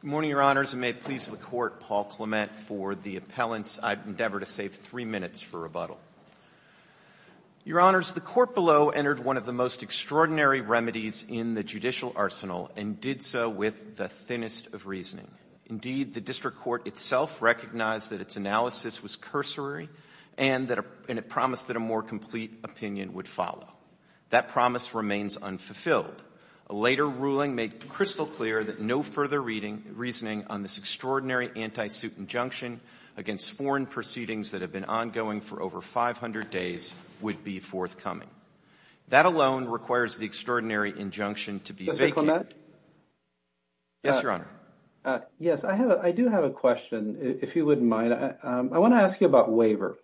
Good morning, Your Honors, and may it please the Court, Paul Clement, for the appellant's I endeavor to save three minutes for rebuttal. Your Honors, the Court below entered one of the most extraordinary remedies in the judicial arsenal and did so with the thinnest of reasoning. Indeed, the District Court itself recognized that its analysis was cursory and it promised that a more complete opinion would follow. That promise remains unfulfilled. A later ruling made crystal clear that no further reasoning on this extraordinary anti-suit injunction against foreign proceedings that have been ongoing for over 500 days would be forthcoming. That alone requires the extraordinary injunction to be vacated. Mr. Clement? Yes, Your Honor. Yes, I do have a question, if you wouldn't mind. I want to ask you about waiver.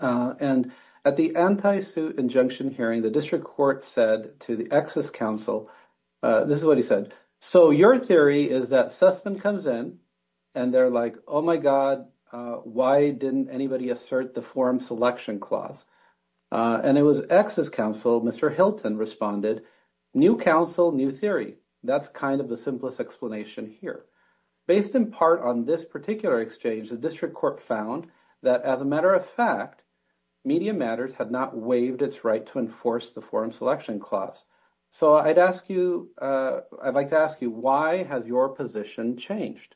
And at the anti-suit injunction hearing, the District Court said to the Exes Council, this is what he said, so your theory is that Sussman comes in and they're like, oh my God, why didn't anybody assert the forum selection clause? And it was Exes Council, Mr. Hilton responded, new council, new theory. That's kind of the simplest explanation here. Based in part on this particular exchange, the District Court found that as a matter of fact, Media Matters had not waived its right to enforce the forum selection clause. So I'd ask you, I'd like to ask you, why has your position changed?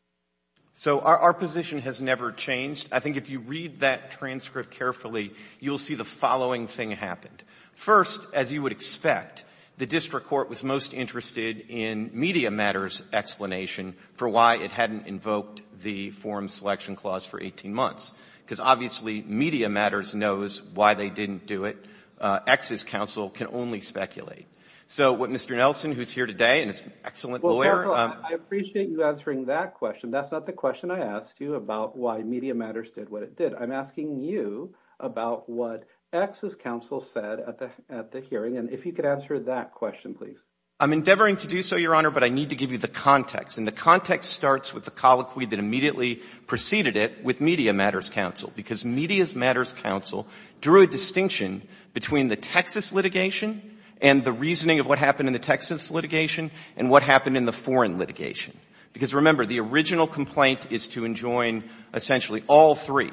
So our position has never changed. I think if you read that transcript carefully, you'll see the following thing happened. First, as you would expect, the District Court was most interested in Media Matters' explanation for why it hadn't invoked the forum selection clause for 18 months. Because obviously, Media Matters knows why they didn't do it. Exes Council can only speculate. So what Mr. Nelson, who's here today, and is an excellent lawyer. Well, counsel, I appreciate you answering that question. That's not the question I asked you about why Media Matters did what it did. I'm asking you about what Exes Council said at the hearing, and if you could answer that question, please. I'm endeavoring to do so, Your Honor, but I need to give you the context. And the context starts with the colloquy that immediately preceded it with Media Matters Council. Because Media Matters Council drew a distinction between the Texas litigation and the reasoning of what happened in the Texas litigation and what happened in the foreign litigation. Because remember, the original complaint is to enjoin essentially all three.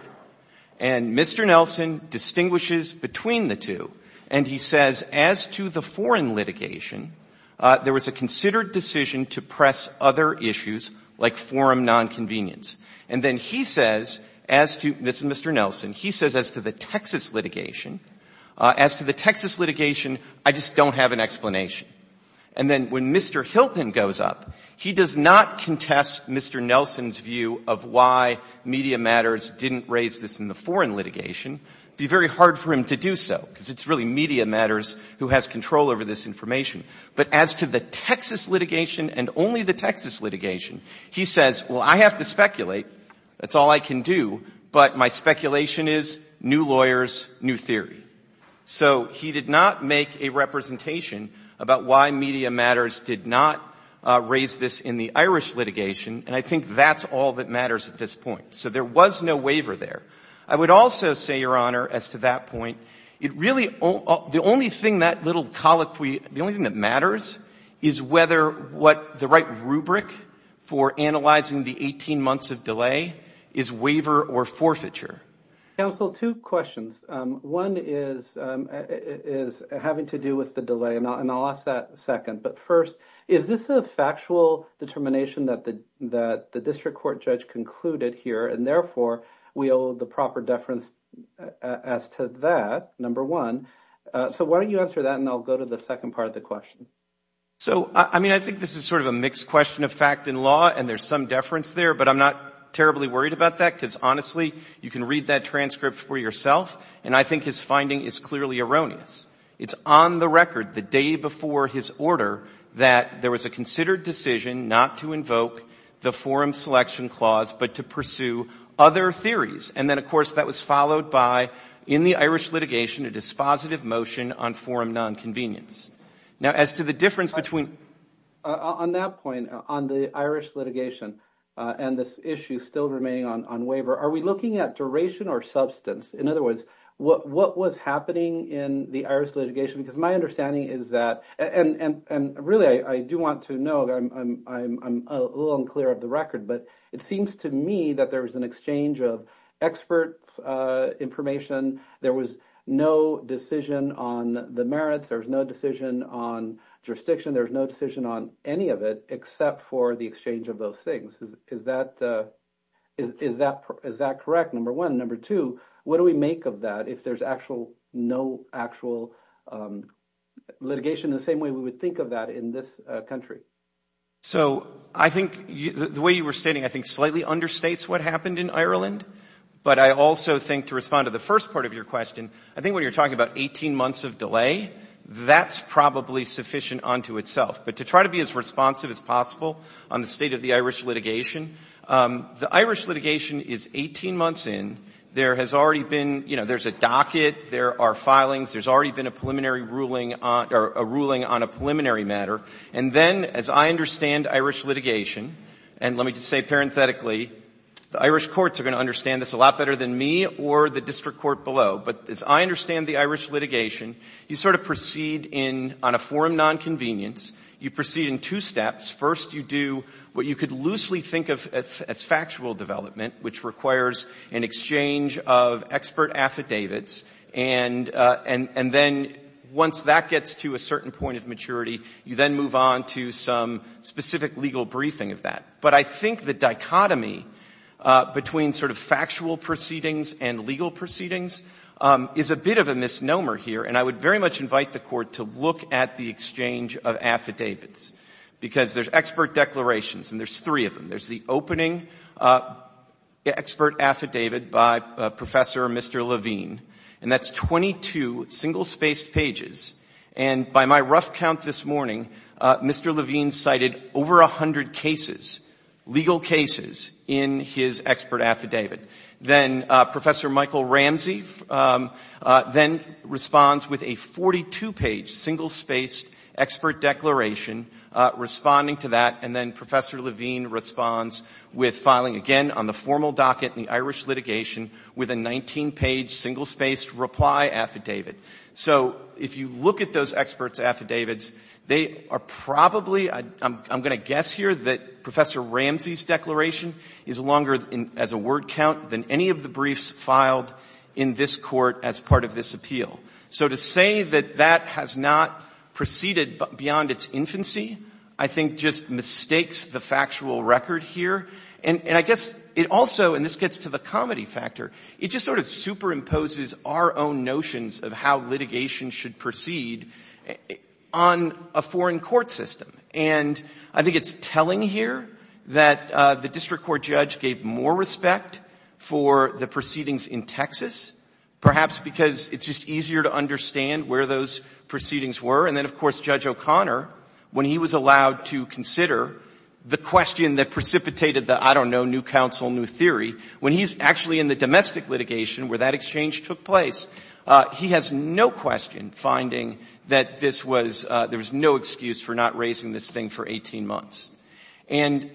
And Mr. Nelson distinguishes between the two. And he says, as to the foreign litigation, there was a considered decision to press other issues like forum nonconvenience. And then he says, as to, this is Mr. Nelson, he says, as to the Texas litigation, as to the Texas litigation, I just don't have an explanation. And then when Mr. Hilton goes up, he does not contest Mr. Nelson's view of why Media Matters didn't raise this in the foreign litigation, it would be very hard for him to do so. Because it's really Media Matters who has control over this information. But as to the Texas litigation and only the Texas litigation, he says, well, I have to That's all I can do. But my speculation is new lawyers, new theory. So he did not make a representation about why Media Matters did not raise this in the Irish litigation. And I think that's all that matters at this point. So there was no waiver there. I would also say, Your Honor, as to that point, it really, the only thing that little colloquy, the only thing that matters is whether what the right rubric for analyzing the 18 months of delay is waiver or forfeiture. Counsel, two questions. One is, is having to do with the delay and I'll ask that second. But first, is this a factual determination that the district court judge concluded here? And therefore, we owe the proper deference as to that, number one. So why don't you answer that? And I'll go to the second part of the question. So I mean, I think this is sort of a mixed question of fact and law. And there's some deference there. But I'm not terribly worried about that, because honestly, you can read that transcript for yourself. And I think his finding is clearly erroneous. It's on the record the day before his order that there was a considered decision not to invoke the forum selection clause, but to pursue other theories. And then, of course, that was followed by, in the Irish litigation, a dispositive motion on forum nonconvenience. Now, as to the difference between... On that point, on the Irish litigation and this issue still remaining on waiver, are we looking at duration or substance? In other words, what was happening in the Irish litigation? Because my understanding is that... And really, I do want to know. I'm a little unclear of the record. But it seems to me that there was an exchange of experts' information. There was no decision on the merits. There was no decision on jurisdiction. There was no decision on any of it, except for the exchange of those things. Is that correct, number one? And number two, what do we make of that if there's no actual litigation in the same way we would think of that in this country? So I think the way you were stating, I think, slightly understates what happened in Ireland. But I also think, to respond to the first part of your question, I think when you're talking about 18 months of delay, that's probably sufficient unto itself. But to try to be as responsive as possible on the state of the Irish litigation, the Irish litigation is 18 months in. There has already been, you know, there's a docket. There are filings. There's already been a preliminary ruling on a preliminary matter. And then, as I understand Irish litigation, and let me just say parenthetically, the Irish courts are going to understand this a lot better than me or the district court below. But as I understand the Irish litigation, you sort of proceed on a forum nonconvenience. You proceed in two steps. First, you do what you could loosely think of as factual development, which requires an exchange of expert affidavits. And then, once that gets to a certain point of maturity, you then move on to some specific legal briefing of that. But I think the dichotomy between sort of factual proceedings and legal proceedings is a bit of a misnomer here. And I would very much invite the Court to look at the exchange of affidavits, because there's expert declarations, and there's three of them. There's the opening expert affidavit by Professor Mr. Levine, and that's 22 single-spaced pages. And by my rough count this morning, Mr. Levine cited over a hundred cases, legal cases, in his expert affidavit. Then Professor Michael Ramsey then responds with a 42-page single-spaced expert declaration responding to that. And then Professor Levine responds with filing again on the formal docket in the Irish litigation with a 19-page single-spaced reply affidavit. So if you look at those expert affidavits, they are probably, I'm going to guess here that Professor Ramsey's declaration is longer as a word count than any of the briefs filed in this Court as part of this appeal. So to say that that has not proceeded beyond its infancy I think just mistakes the factual record here. And I guess it also, and this gets to the comedy factor, it just sort of superimposes our own notions of how litigation should proceed on a foreign court system. And I think it's telling here that the district court judge gave more respect for the proceedings in Texas, perhaps because it's just easier to understand where those proceedings were. And then, of course, Judge O'Connor, when he was allowed to consider the question that precipitated the, I don't know, new counsel, new theory, when he's actually in the domestic litigation where that exchange took place, he has no question finding that this was, there was no excuse for not raising this thing for 18 months. And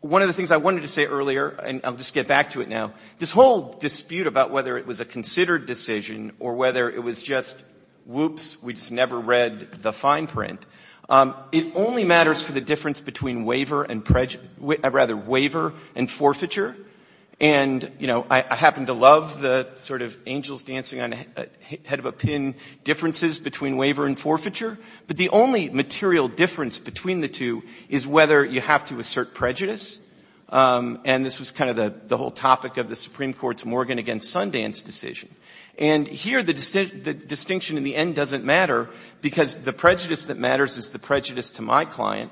one of the things I wanted to say earlier, and I'll just get back to it now, this whole dispute about whether it was a considered decision or whether it was just whoops, we just never read the fine print, it only matters for the difference between waiver and, rather, waiver and forfeiture. And you know, I happen to love the sort of angels dancing on the head of a pin differences between waiver and forfeiture, but the only material difference between the two is whether you have to assert prejudice. And this was kind of the whole topic of the Supreme Court's Morgan v. Sundance decision. And here the distinction in the end doesn't matter because the prejudice that matters is the prejudice to my client.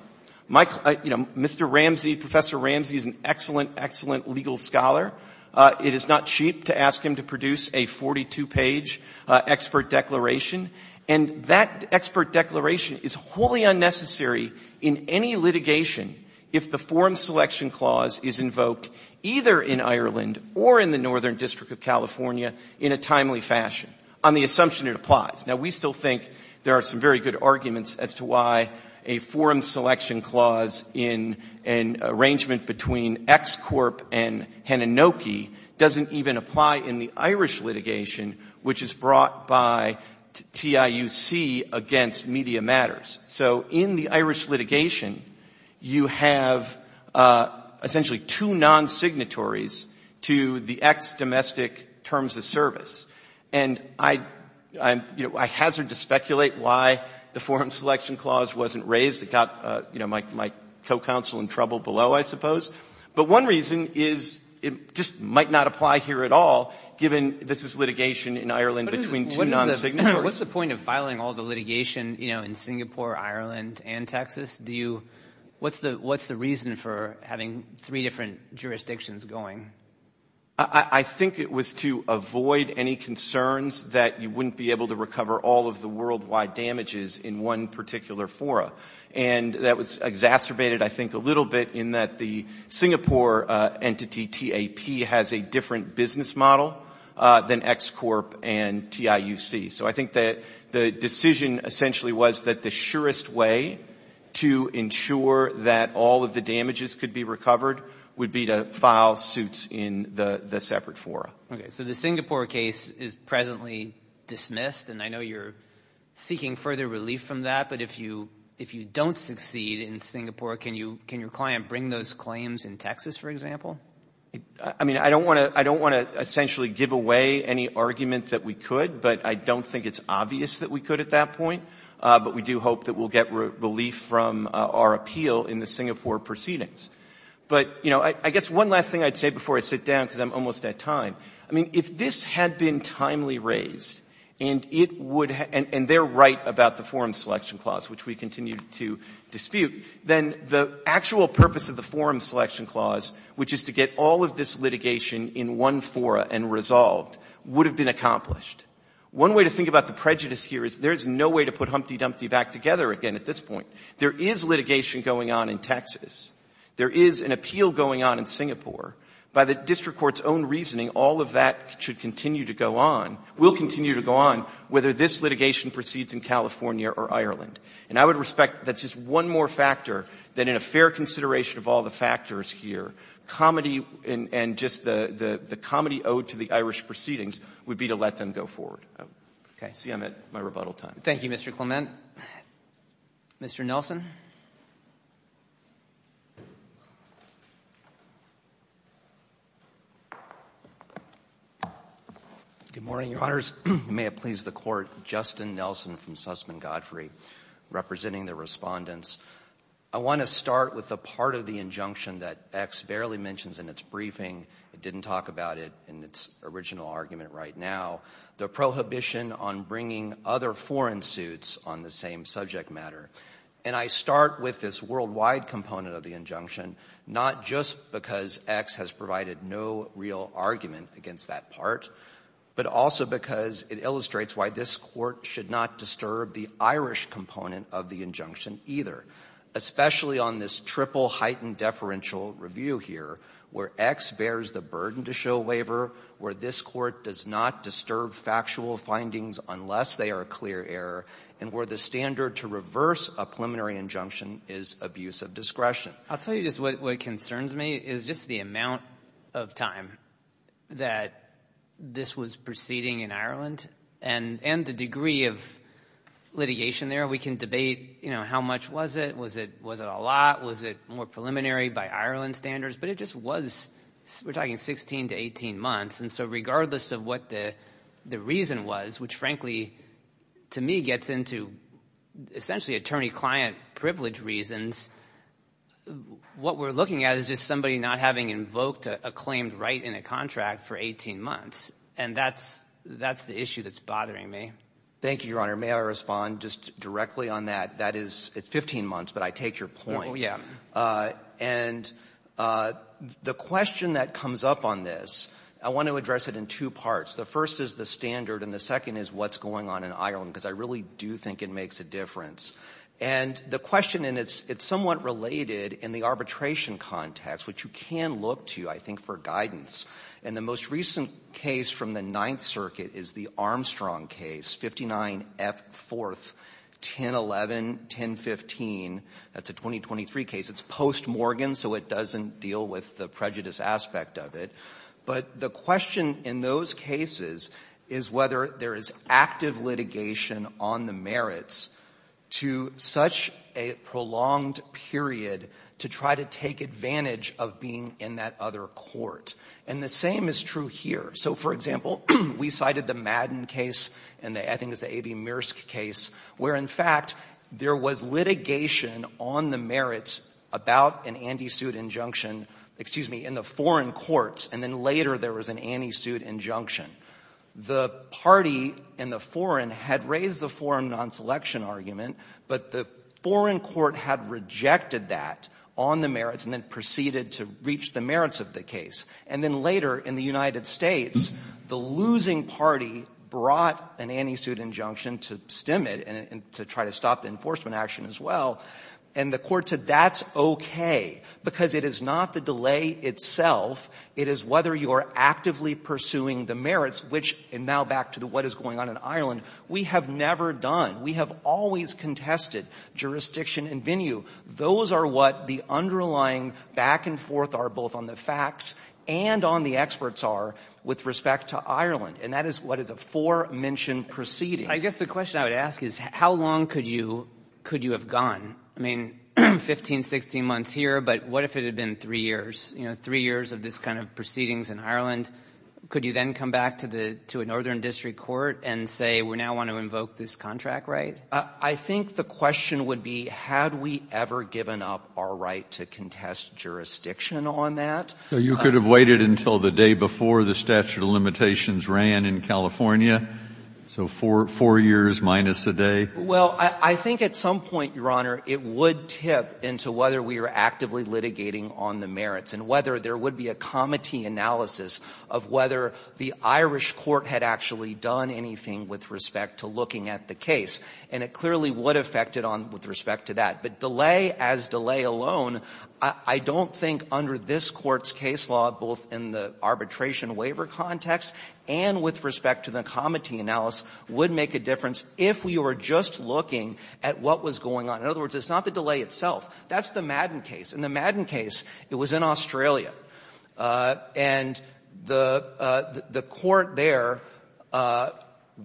My client, you know, Mr. Ramsey, Professor Ramsey is an excellent, excellent legal scholar. It is not cheap to ask him to produce a 42-page expert declaration. And that expert declaration is wholly unnecessary in any litigation if the forum selection clause is invoked either in Ireland or in the Northern District of California in a timely fashion on the assumption it applies. Now, we still think there are some very good arguments as to why a forum selection clause in an arrangement between ExCorp and Hananoki doesn't even apply in the Irish litigation, which is brought by TIUC against Media Matters. So in the Irish litigation, you have essentially two non-signatories to the ex-domestic terms of service. And I, you know, I hazard to speculate why the forum selection clause wasn't raised. It got, you know, my co-counsel in trouble below, I suppose. But one reason is it just might not apply here at all given this is litigation in Ireland between two non-signatories. What's the point of filing all the litigation, you know, in Singapore, Ireland, and Texas? Do you, what's the reason for having three different jurisdictions going? I think it was to avoid any concerns that you wouldn't be able to recover all of the worldwide damages in one particular fora. And that was exacerbated, I think, a little bit in that the Singapore entity, TAP, has a different business model than ExCorp and TIUC. So I think that the decision essentially was that the surest way to ensure that all of the damages could be recovered would be to file suits in the separate fora. Okay. So the Singapore case is presently dismissed. And I know you're seeking further relief from that. But if you, if you don't succeed in Singapore, can you, can your client bring those claims in Texas, for example? I mean, I don't want to, I don't want to essentially give away any argument that we could, but I don't think it's obvious that we could at that point. But we do hope that we'll get relief from our appeal in the Singapore proceedings. But, you know, I guess one last thing I'd say before I sit down, because I'm almost at time, I mean, if this had been timely raised and it would, and they're right about the Forum Selection Clause, which we continue to dispute, then the actual purpose of the Forum Selection Clause, which is to get all of this litigation in one fora and resolved, would have been accomplished. One way to think about the prejudice here is there's no way to put Humpty Dumpty back together again at this point. There is litigation going on in Texas. There is an appeal going on in Singapore. By the district court's own reasoning, all of that should continue to go on, will continue to go on, whether this litigation proceeds in California or Ireland. And I would respect, that's just one more factor that in a fair consideration of all the factors here, comedy and just the comedy owed to the Irish proceedings would be to let them go forward. Okay. See, I'm at my rebuttal time. Thank you, Mr. Clement. Mr. Nelson? Good morning, Your Honors. May it please the Court, Justin Nelson from Sussman Godfrey, representing the respondents. I want to start with the part of the injunction that X barely mentions in its briefing, it didn't talk about it in its original argument right now, the prohibition on bringing other foreign suits on the same subject matter. And I start with this worldwide component of the injunction, not just because X has provided no real argument against that part, but also because it illustrates why this Court should not disturb the Irish component of the injunction either, especially on this triple heightened deferential review here, where X bears the burden to show waiver, where this Court does not disturb factual findings unless they are a clear error, and where the standard to reverse a preliminary injunction is abuse of discretion. I'll tell you just what concerns me is just the amount of time that this was proceeding in Ireland and the degree of litigation there. We can debate, you know, how much was it? Was it a lot? Was it more preliminary by Ireland standards? But it just was, we're talking 16 to 18 months. And so regardless of what the reason was, which frankly, to me, gets into essentially attorney-client privilege reasons, what we're looking at is just somebody not having invoked a claimed right in a contract for 18 months. And that's the issue that's bothering me. Thank you, Your Honor. May I respond just directly on that? That is, it's 15 months, but I take your point. Yeah. And the question that comes up on this, I want to address it in two parts. The first is the standard, and the second is what's going on in Ireland, because I really do think it makes a difference. And the question, and it's somewhat related in the arbitration context, which you can look to, I think, for guidance, and the most recent case from the Ninth Circuit is the Armstrong case, 59F4, 1011, 1015. That's a 2023 case. It's post-Morgan, so it doesn't deal with the prejudice aspect of it. But the question in those cases is whether there is active litigation on the merits to such a prolonged period to try to take advantage of being in that other court. And the same is true here. So for example, we cited the Madden case, and I think it's the A.V. case, where in fact there was litigation on the merits about an anti-suit injunction in the foreign courts, and then later there was an anti-suit injunction. The party in the foreign had raised the foreign non-selection argument, but the foreign court had rejected that on the merits and then proceeded to reach the merits of the case. And then later in the United States, the losing party brought an anti-suit injunction to stim it and to try to stop the enforcement action as well, and the court said that's okay because it is not the delay itself. It is whether you are actively pursuing the merits, which, and now back to what is going on in Ireland, we have never done. We have always contested jurisdiction and venue. Those are what the underlying back and forth are both on the facts and on the experts are with respect to Ireland, and that is what is a four-mention proceeding. I guess the question I would ask is how long could you have gone? I mean, 15, 16 months here, but what if it had been three years, you know, three years of this kind of proceedings in Ireland? Could you then come back to a northern district court and say we now want to invoke this contract right? I think the question would be had we ever given up our right to contest jurisdiction on that? So you could have waited until the day before the statute of limitations ran in California, so four years minus a day? Well, I think at some point, Your Honor, it would tip into whether we were actively litigating on the merits and whether there would be a comity analysis of whether the Irish court had actually done anything with respect to looking at the case. And it clearly would affect it on with respect to that. But delay as delay alone, I don't think under this Court's case law, both in the arbitration waiver context and with respect to the comity analysis, would make a difference if we were just looking at what was going on. In other words, it's not the delay itself. That's the Madden case. In the Madden case, it was in Australia. And the court there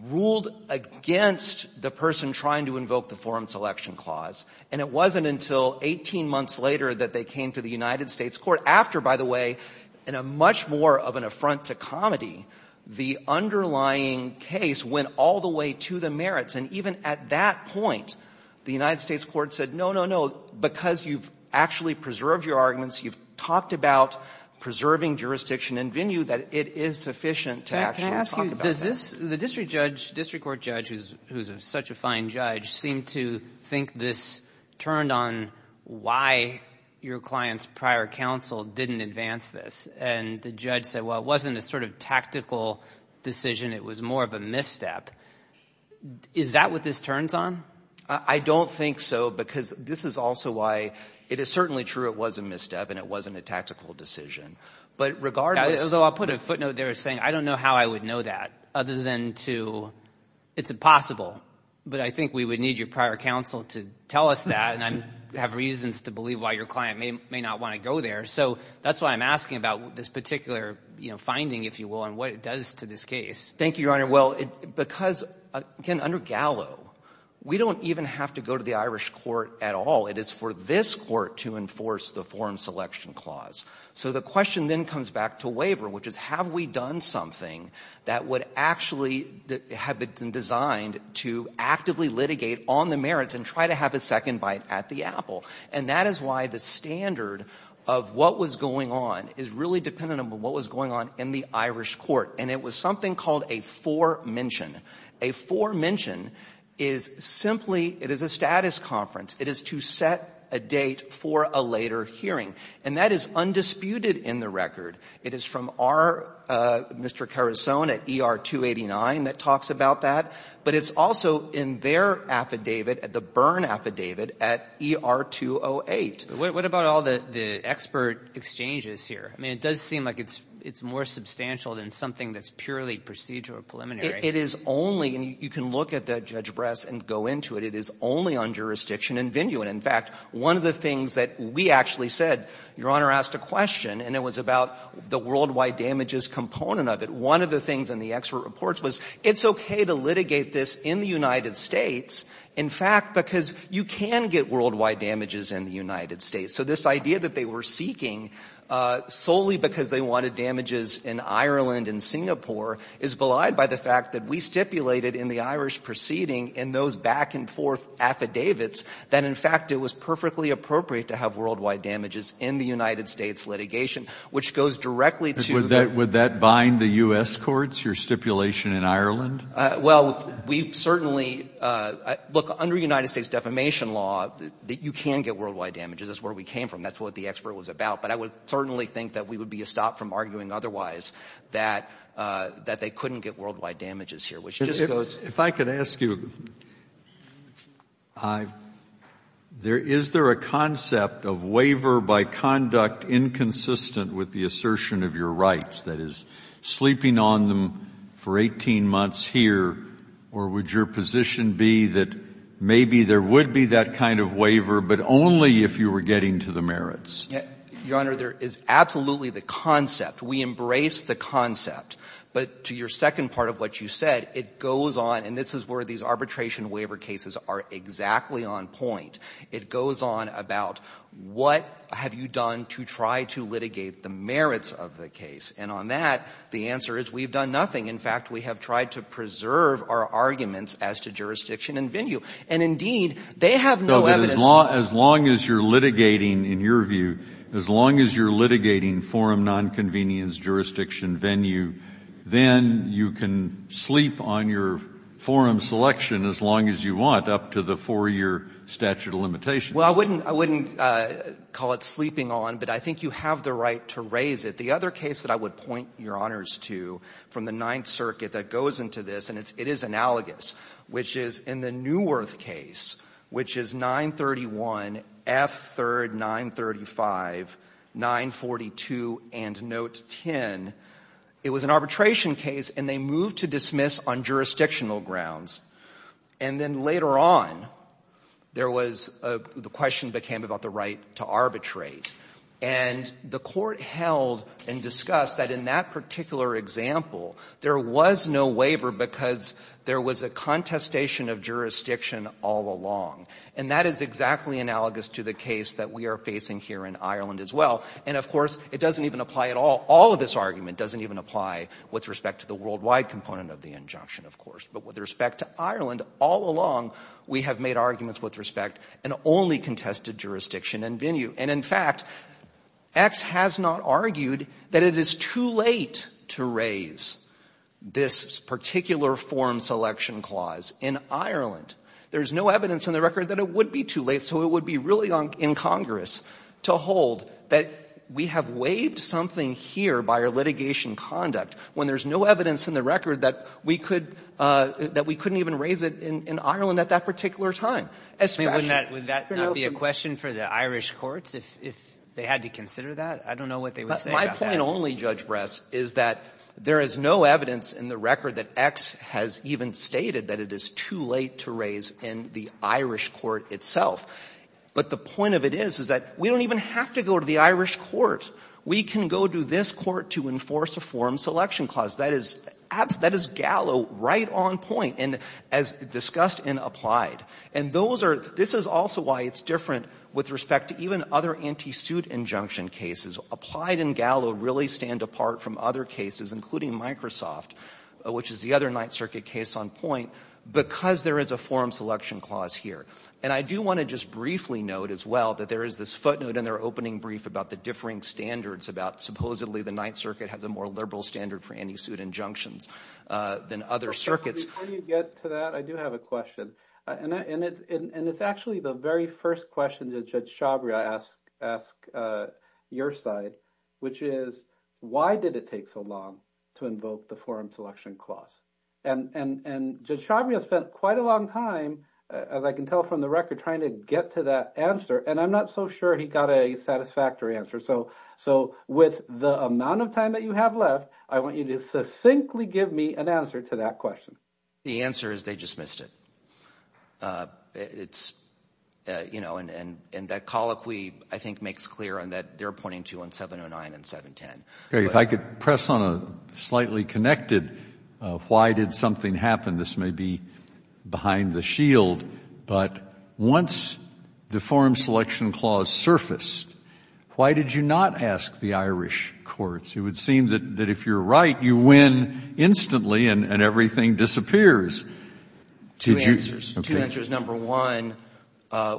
ruled against the person trying to invoke the forum selection clause, and it wasn't until 18 months later that they came to the United States court. After, by the way, in a much more of an affront to comity, the underlying case went all the way to the merits. And even at that point, the United States court said, no, no, no, because you've actually preserved your arguments, you've talked about preserving jurisdiction and venue, that it is sufficient to actually talk about that. Can I ask you, does this, the district judge, district court judge, who's such a fine judge, seemed to think this turned on why your client's prior counsel didn't advance this. And the judge said, well, it wasn't a sort of tactical decision, it was more of a misstep. Is that what this turns on? I don't think so, because this is also why it is certainly true it was a misstep and it wasn't a tactical decision. But regardless of the law put a footnote there saying, I don't know how I would know that, other than to, it's impossible. But I think we would need your prior counsel to tell us that, and I have reasons to believe why your client may not want to go there. So that's why I'm asking about this particular finding, if you will, and what it does to this case. Thank you, Your Honor. Well, because, again, under Gallo, we don't even have to go to the Irish court at all. It is for this court to enforce the forum selection clause. So the question then comes back to waiver, which is, have we done something that would actually have been designed to actively litigate on the merits and try to have a second bite at the apple? And that is why the standard of what was going on is really dependent on what was going on in the Irish court. And it was something called a foremention. A foremention is simply, it is a status conference. It is to set a date for a later hearing. And that is undisputed in the record. It is from our Mr. Carusone at ER-289 that talks about that. But it's also in their affidavit, the Byrne affidavit at ER-208. What about all the expert exchanges here? I mean, it does seem like it's more substantial than something that's purely procedural or preliminary. It is only, and you can look at that, Judge Bress, and go into it. It is only on jurisdiction in venue. And, in fact, one of the things that we actually said, Your Honor asked a question, and it was about the worldwide damages component of it. One of the things in the expert reports was, it's okay to litigate this in the United States, in fact, because you can get worldwide damages in the United States. So this idea that they were seeking solely because they wanted damages in Ireland and Singapore is belied by the fact that we stipulated in the Irish proceeding in those back-and-forth affidavits that, in fact, it was perfectly appropriate to have worldwide damages in the United States litigation, which goes directly to Would that bind the U.S. courts, your stipulation in Ireland? Well, we certainly, look, under United States defamation law, you can get worldwide damages. That's where we came from. That's what the expert was about. But I would certainly think that we would be stopped from arguing otherwise, that they couldn't get worldwide damages here, which just goes If I could ask you, is there a concept of waiver by conduct inconsistent with the assertion of your rights? That is, sleeping on them for 18 months here, or would your position be that maybe there would be that kind of waiver, but only if you were getting to the merits? Your Honor, there is absolutely the concept. We embrace the concept. But to your second part of what you said, it goes on, and this is where these arbitration waiver cases are exactly on point. It goes on about what have you done to try to litigate the merits of the case. And on that, the answer is we have done nothing. In fact, we have tried to preserve our arguments as to jurisdiction and venue. And indeed, they have no evidence. So as long as you're litigating, in your view, as long as you're litigating forum nonconvenience, jurisdiction, venue, then you can sleep on your forum selection as long as you want up to the 4-year statute of limitations. Well, I wouldn't call it sleeping on, but I think you have the right to raise it. The other case that I would point your Honors to from the Ninth Circuit that goes into this, and it is analogous, which is in the Neuwirth case, which is 931, F3, 935, 942, and Note 10, it was an arbitration case, and they moved to dismiss on jurisdictional grounds. And then later on, there was the question became about the right to arbitrate. And the court held and discussed that in that particular example, there was no waiver because there was a contestation of jurisdiction all along. And that is exactly analogous to the case that we are facing here in Ireland as well. And of course, it doesn't even apply at all. All of this argument doesn't even apply with respect to the worldwide component of the injunction, of course. But with respect to Ireland, all along, we have made arguments with respect and only contested jurisdiction and venue. And in fact, X has not argued that it is too late to raise this particular form selection clause in Ireland. There is no evidence in the record that it would be too late. So it would be really incongruous to hold that we have waived something here by our litigation conduct when there is no evidence in the record that we could — that we couldn't even raise it in Ireland at that particular time. Would that not be a question for the Irish courts if they had to consider that? I don't know what they would say about that. My point only, Judge Bress, is that there is no evidence in the record that X has even stated that it is too late to raise in the Irish court itself. But the point of it is, is that we don't even have to go to the Irish courts. We can go to this court to enforce a form selection clause. That is gallow, right on point, and as discussed and applied. And those are — this is also why it's different with respect to even other anti-suit injunction cases. Applied and gallow really stand apart from other cases, including Microsoft, which is the other Ninth Circuit case on point, because there is a form selection clause here. And I do want to just briefly note as well that there is this footnote in their opening brief about the differing standards about supposedly the Ninth Circuit has a more liberal standard for anti-suit injunctions than other circuits. Before you get to that, I do have a question. And it's actually the very first question that Judge Shabria asked your side, which is, why did it take so long to invoke the form selection clause? And Judge Shabria spent quite a long time, as I can tell from the record, trying to get to that answer. And I'm not so sure he got a satisfactory answer. So with the amount of time that you have left, I want you to succinctly give me an answer to that question. The answer is they just missed it. It's, you know, and that colloquy I think makes clear on that they're pointing to on 709 and 710. If I could press on a slightly connected why did something happen, this may be behind the shield, but once the form selection clause surfaced, why did you not ask the Irish courts? It would seem that if you're right, you win instantly and everything disappears. Did you? Two answers. Two answers. Number one,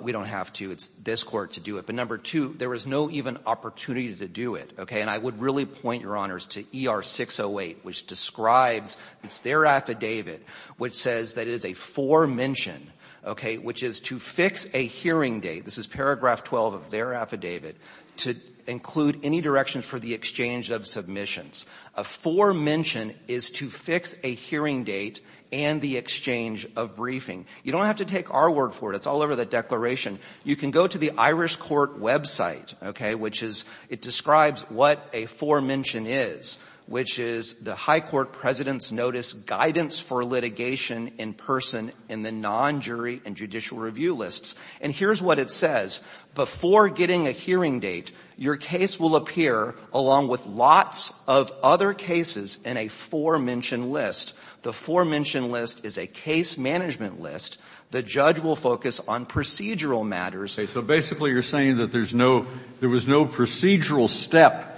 we don't have to. It's this Court to do it. But number two, there was no even opportunity to do it, okay? And I would really point, Your Honors, to ER-608, which describes, it's their affidavit, which says that it is a foremention, okay, which is to fix a hearing date, this is paragraph 12 of their affidavit, to include any directions for the exchange of submissions. A foremention is to fix a hearing date and the exchange of briefing. You don't have to take our word for it. It's all over the declaration. You can go to the Irish court website, okay, which is, it describes what a foremention is, which is the high court president's notice, guidance for litigation in person in the non-jury and judicial review lists. And here's what it says. Before getting a hearing date, your case will appear along with lots of other cases in a forementioned list. The forementioned list is a case management list. The judge will focus on procedural matters. Okay, so basically you're saying that there's no, there was no procedural step.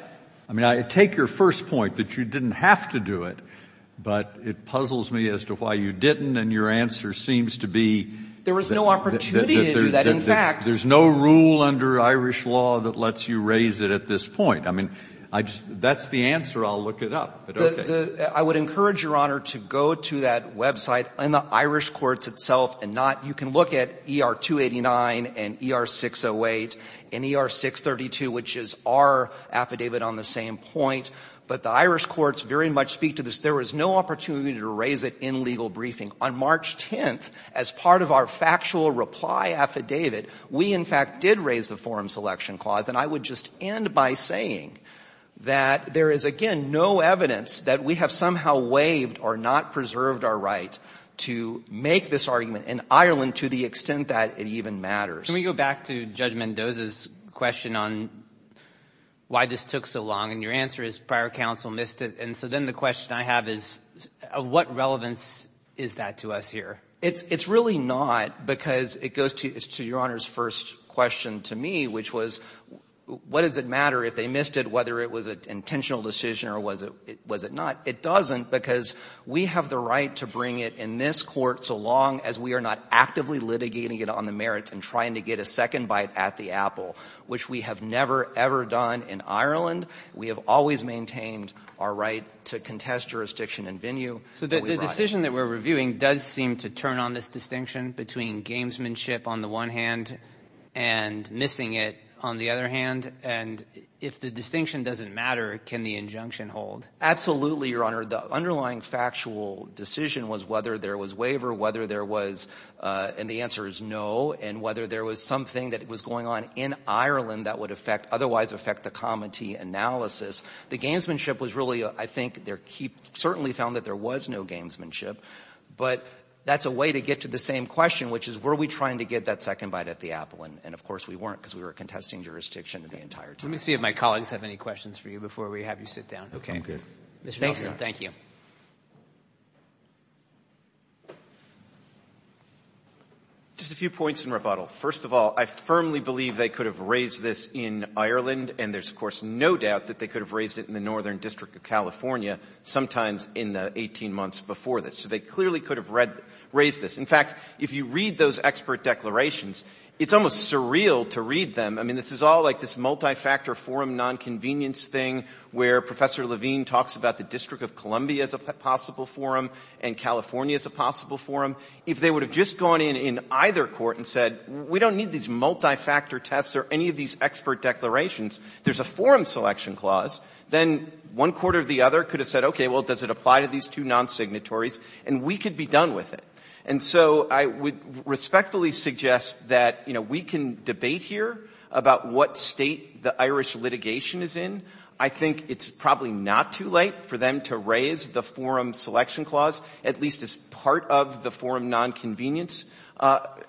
I mean, I take your first point, that you didn't have to do it, but it puzzles me as to why you didn't and your answer seems to be. There was no opportunity to do that, in fact. There's no rule under Irish law that lets you raise it at this point. I mean, I just, that's the answer. I'll look it up, but okay. I would encourage, Your Honor, to go to that website and the Irish courts itself and not, you can look at ER-289 and ER-608 and ER-632, which is our affidavit on the same point, but the Irish courts very much speak to this. There was no opportunity to raise it in legal briefing. On March 10th, as part of our factual reply affidavit, we, in fact, did raise the forum selection clause, and I would just end by saying that there is, again, no evidence that we have somehow waived or not preserved our right to make this argument in Ireland to the extent that it even matters. Can we go back to Judge Mendoza's question on why this took so long, and your answer is prior counsel missed it, and so then the question I have is of what relevance is that to us here? It's really not, because it goes to Your Honor's first question to me, which was, what does it matter if they missed it, whether it was an intentional decision or was it not? It doesn't, because we have the right to bring it in this court so long as we are not actively litigating it on the merits and trying to get a second bite at the apple, which we have never, ever done in Ireland. We have always maintained our right to contest jurisdiction and venue. So the decision that we're reviewing does seem to turn on this distinction between gamesmanship on the one hand and missing it on the other hand, and if the distinction doesn't matter, can the injunction hold? Absolutely, Your Honor. The underlying factual decision was whether there was waiver, whether there was, and the answer is no, and whether there was something that was going on in Ireland that would otherwise affect the comity analysis. The gamesmanship was really, I think, certainly found that there was no gamesmanship, but that's a way to get to the same question, which is were we trying to get that second bite at the apple, and of course we weren't, because we were contesting jurisdiction the entire time. Let me see if my colleagues have any questions for you before we have you sit down. Okay. Mr. Nelson, thank you. Just a few points in rebuttal. First of all, I firmly believe they could have raised this in Ireland, and there's of course no doubt that they could have raised it in the Northern District of California, sometimes in the 18 months before this, so they clearly could have raised this. In fact, if you read those expert declarations, it's almost surreal to read them. I mean, this is all like this multi-factor forum nonconvenience thing where Professor Levine talks about the District of Columbia as a possible forum and California as a possible forum. If they would have just gone in in either court and said, we don't need these multi-factor tests or any of these expert declarations, there's a forum selection clause, then one court or the other could have said, okay, well, does it apply to these two non-signatories, and we could be done with it. And so I would respectfully suggest that, you know, we can debate here about what state the Irish litigation is in. I think it's probably not too late for them to raise the forum selection clause, at least as part of the forum nonconvenience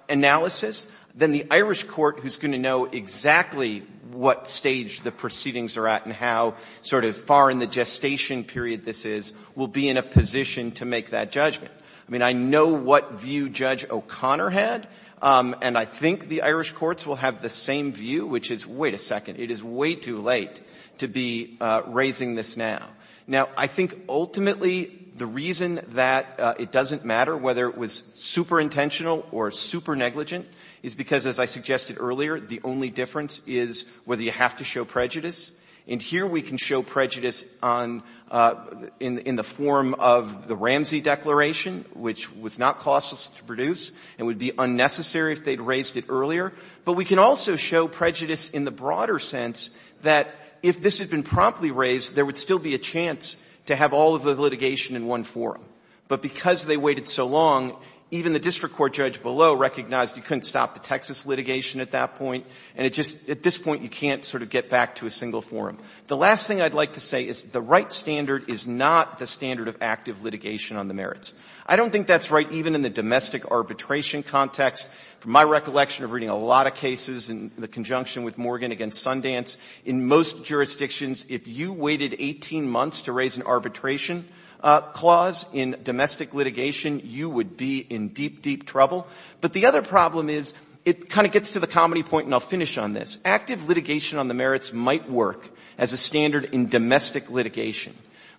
analysis. Then the Irish court, who's going to know exactly what stage the proceedings are at and how sort of far in the gestation period this is, will be in a position to make that judgment. I mean, I know what view Judge O'Connor had, and I think the Irish courts will have the same view, which is, wait a second, it is way too late to be raising this now. Now, I think ultimately the reason that it doesn't matter whether it was superintentional or supernegligent is because, as I suggested earlier, the only difference is whether you have to show prejudice. And here we can show prejudice in the form of the Ramsey Declaration, which was not costless to produce and would be unnecessary if they'd raised it earlier. But we can also show prejudice in the broader sense that if this had been promptly raised, there would still be a chance to have all of the litigation in one forum. But because they waited so long, even the district court judge below recognized you couldn't stop the Texas litigation at that point, and at this point you can't sort of get back to a single forum. The last thing I'd like to say is the right standard is not the standard of active litigation on the merits. I don't think that's right even in the domestic arbitration context. From my recollection of reading a lot of cases in the conjunction with Morgan against Sundance, in most jurisdictions, if you waited 18 months to raise an arbitration clause in domestic litigation, you would be in deep, deep trouble. But the other problem is it kind of gets to the comedy point, and I'll finish on this. Active litigation on the merits might work as a standard in domestic litigation.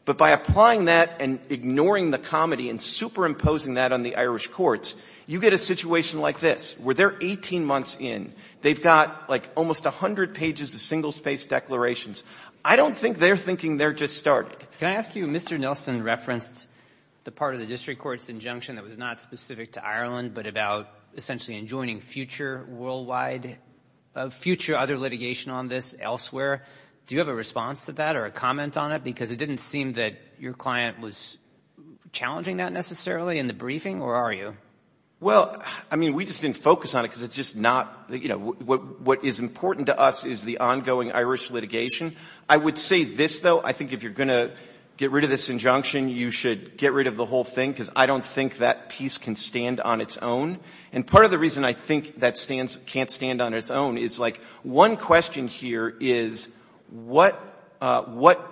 But by applying that and ignoring the comedy and superimposing that on the Irish courts, you get a situation like this, where they're 18 months in. They've got, like, almost 100 pages of single-space declarations. I don't think they're thinking they're just starting. Can I ask you, Mr. Nelson referenced the part of the district court's injunction that was not specific to Ireland but about essentially enjoining future worldwide, future other litigation on this elsewhere. Do you have a response to that or a comment on it? Because it didn't seem that your client was challenging that necessarily in the briefing, or are you? Well, I mean, we just didn't focus on it because it's just not, you know, what is important to us is the ongoing Irish litigation. I would say this, though. I think if you're going to get rid of this injunction, you should get rid of the whole thing, because I don't think that piece can stand on its own. And part of the reason I think that can't stand on its own is, like, one question here is what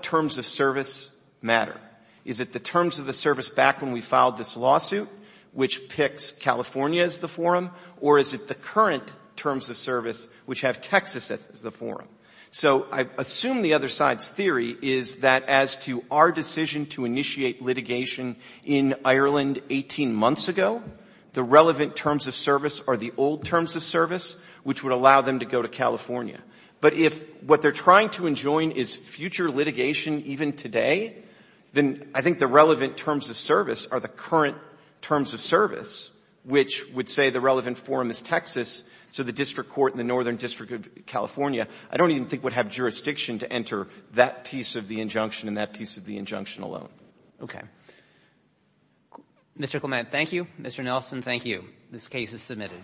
terms of service matter? Is it the terms of the service back when we filed this lawsuit, which picks California as the forum, or is it the current terms of service, which have Texas as the forum? So I assume the other side's theory is that as to our decision to initiate litigation in Ireland 18 months ago, the relevant terms of service are the old terms of service, which would allow them to go to California. But if what they're trying to enjoin is future litigation even today, then I think the relevant terms of service are the current terms of service, which would say the relevant forum is Texas, so the district court in the northern district of California, I don't even think would have jurisdiction to enter that piece of the injunction and that piece of the injunction alone. Okay. Mr. Clement, thank you. Mr. Nelson, thank you. This case is submitted.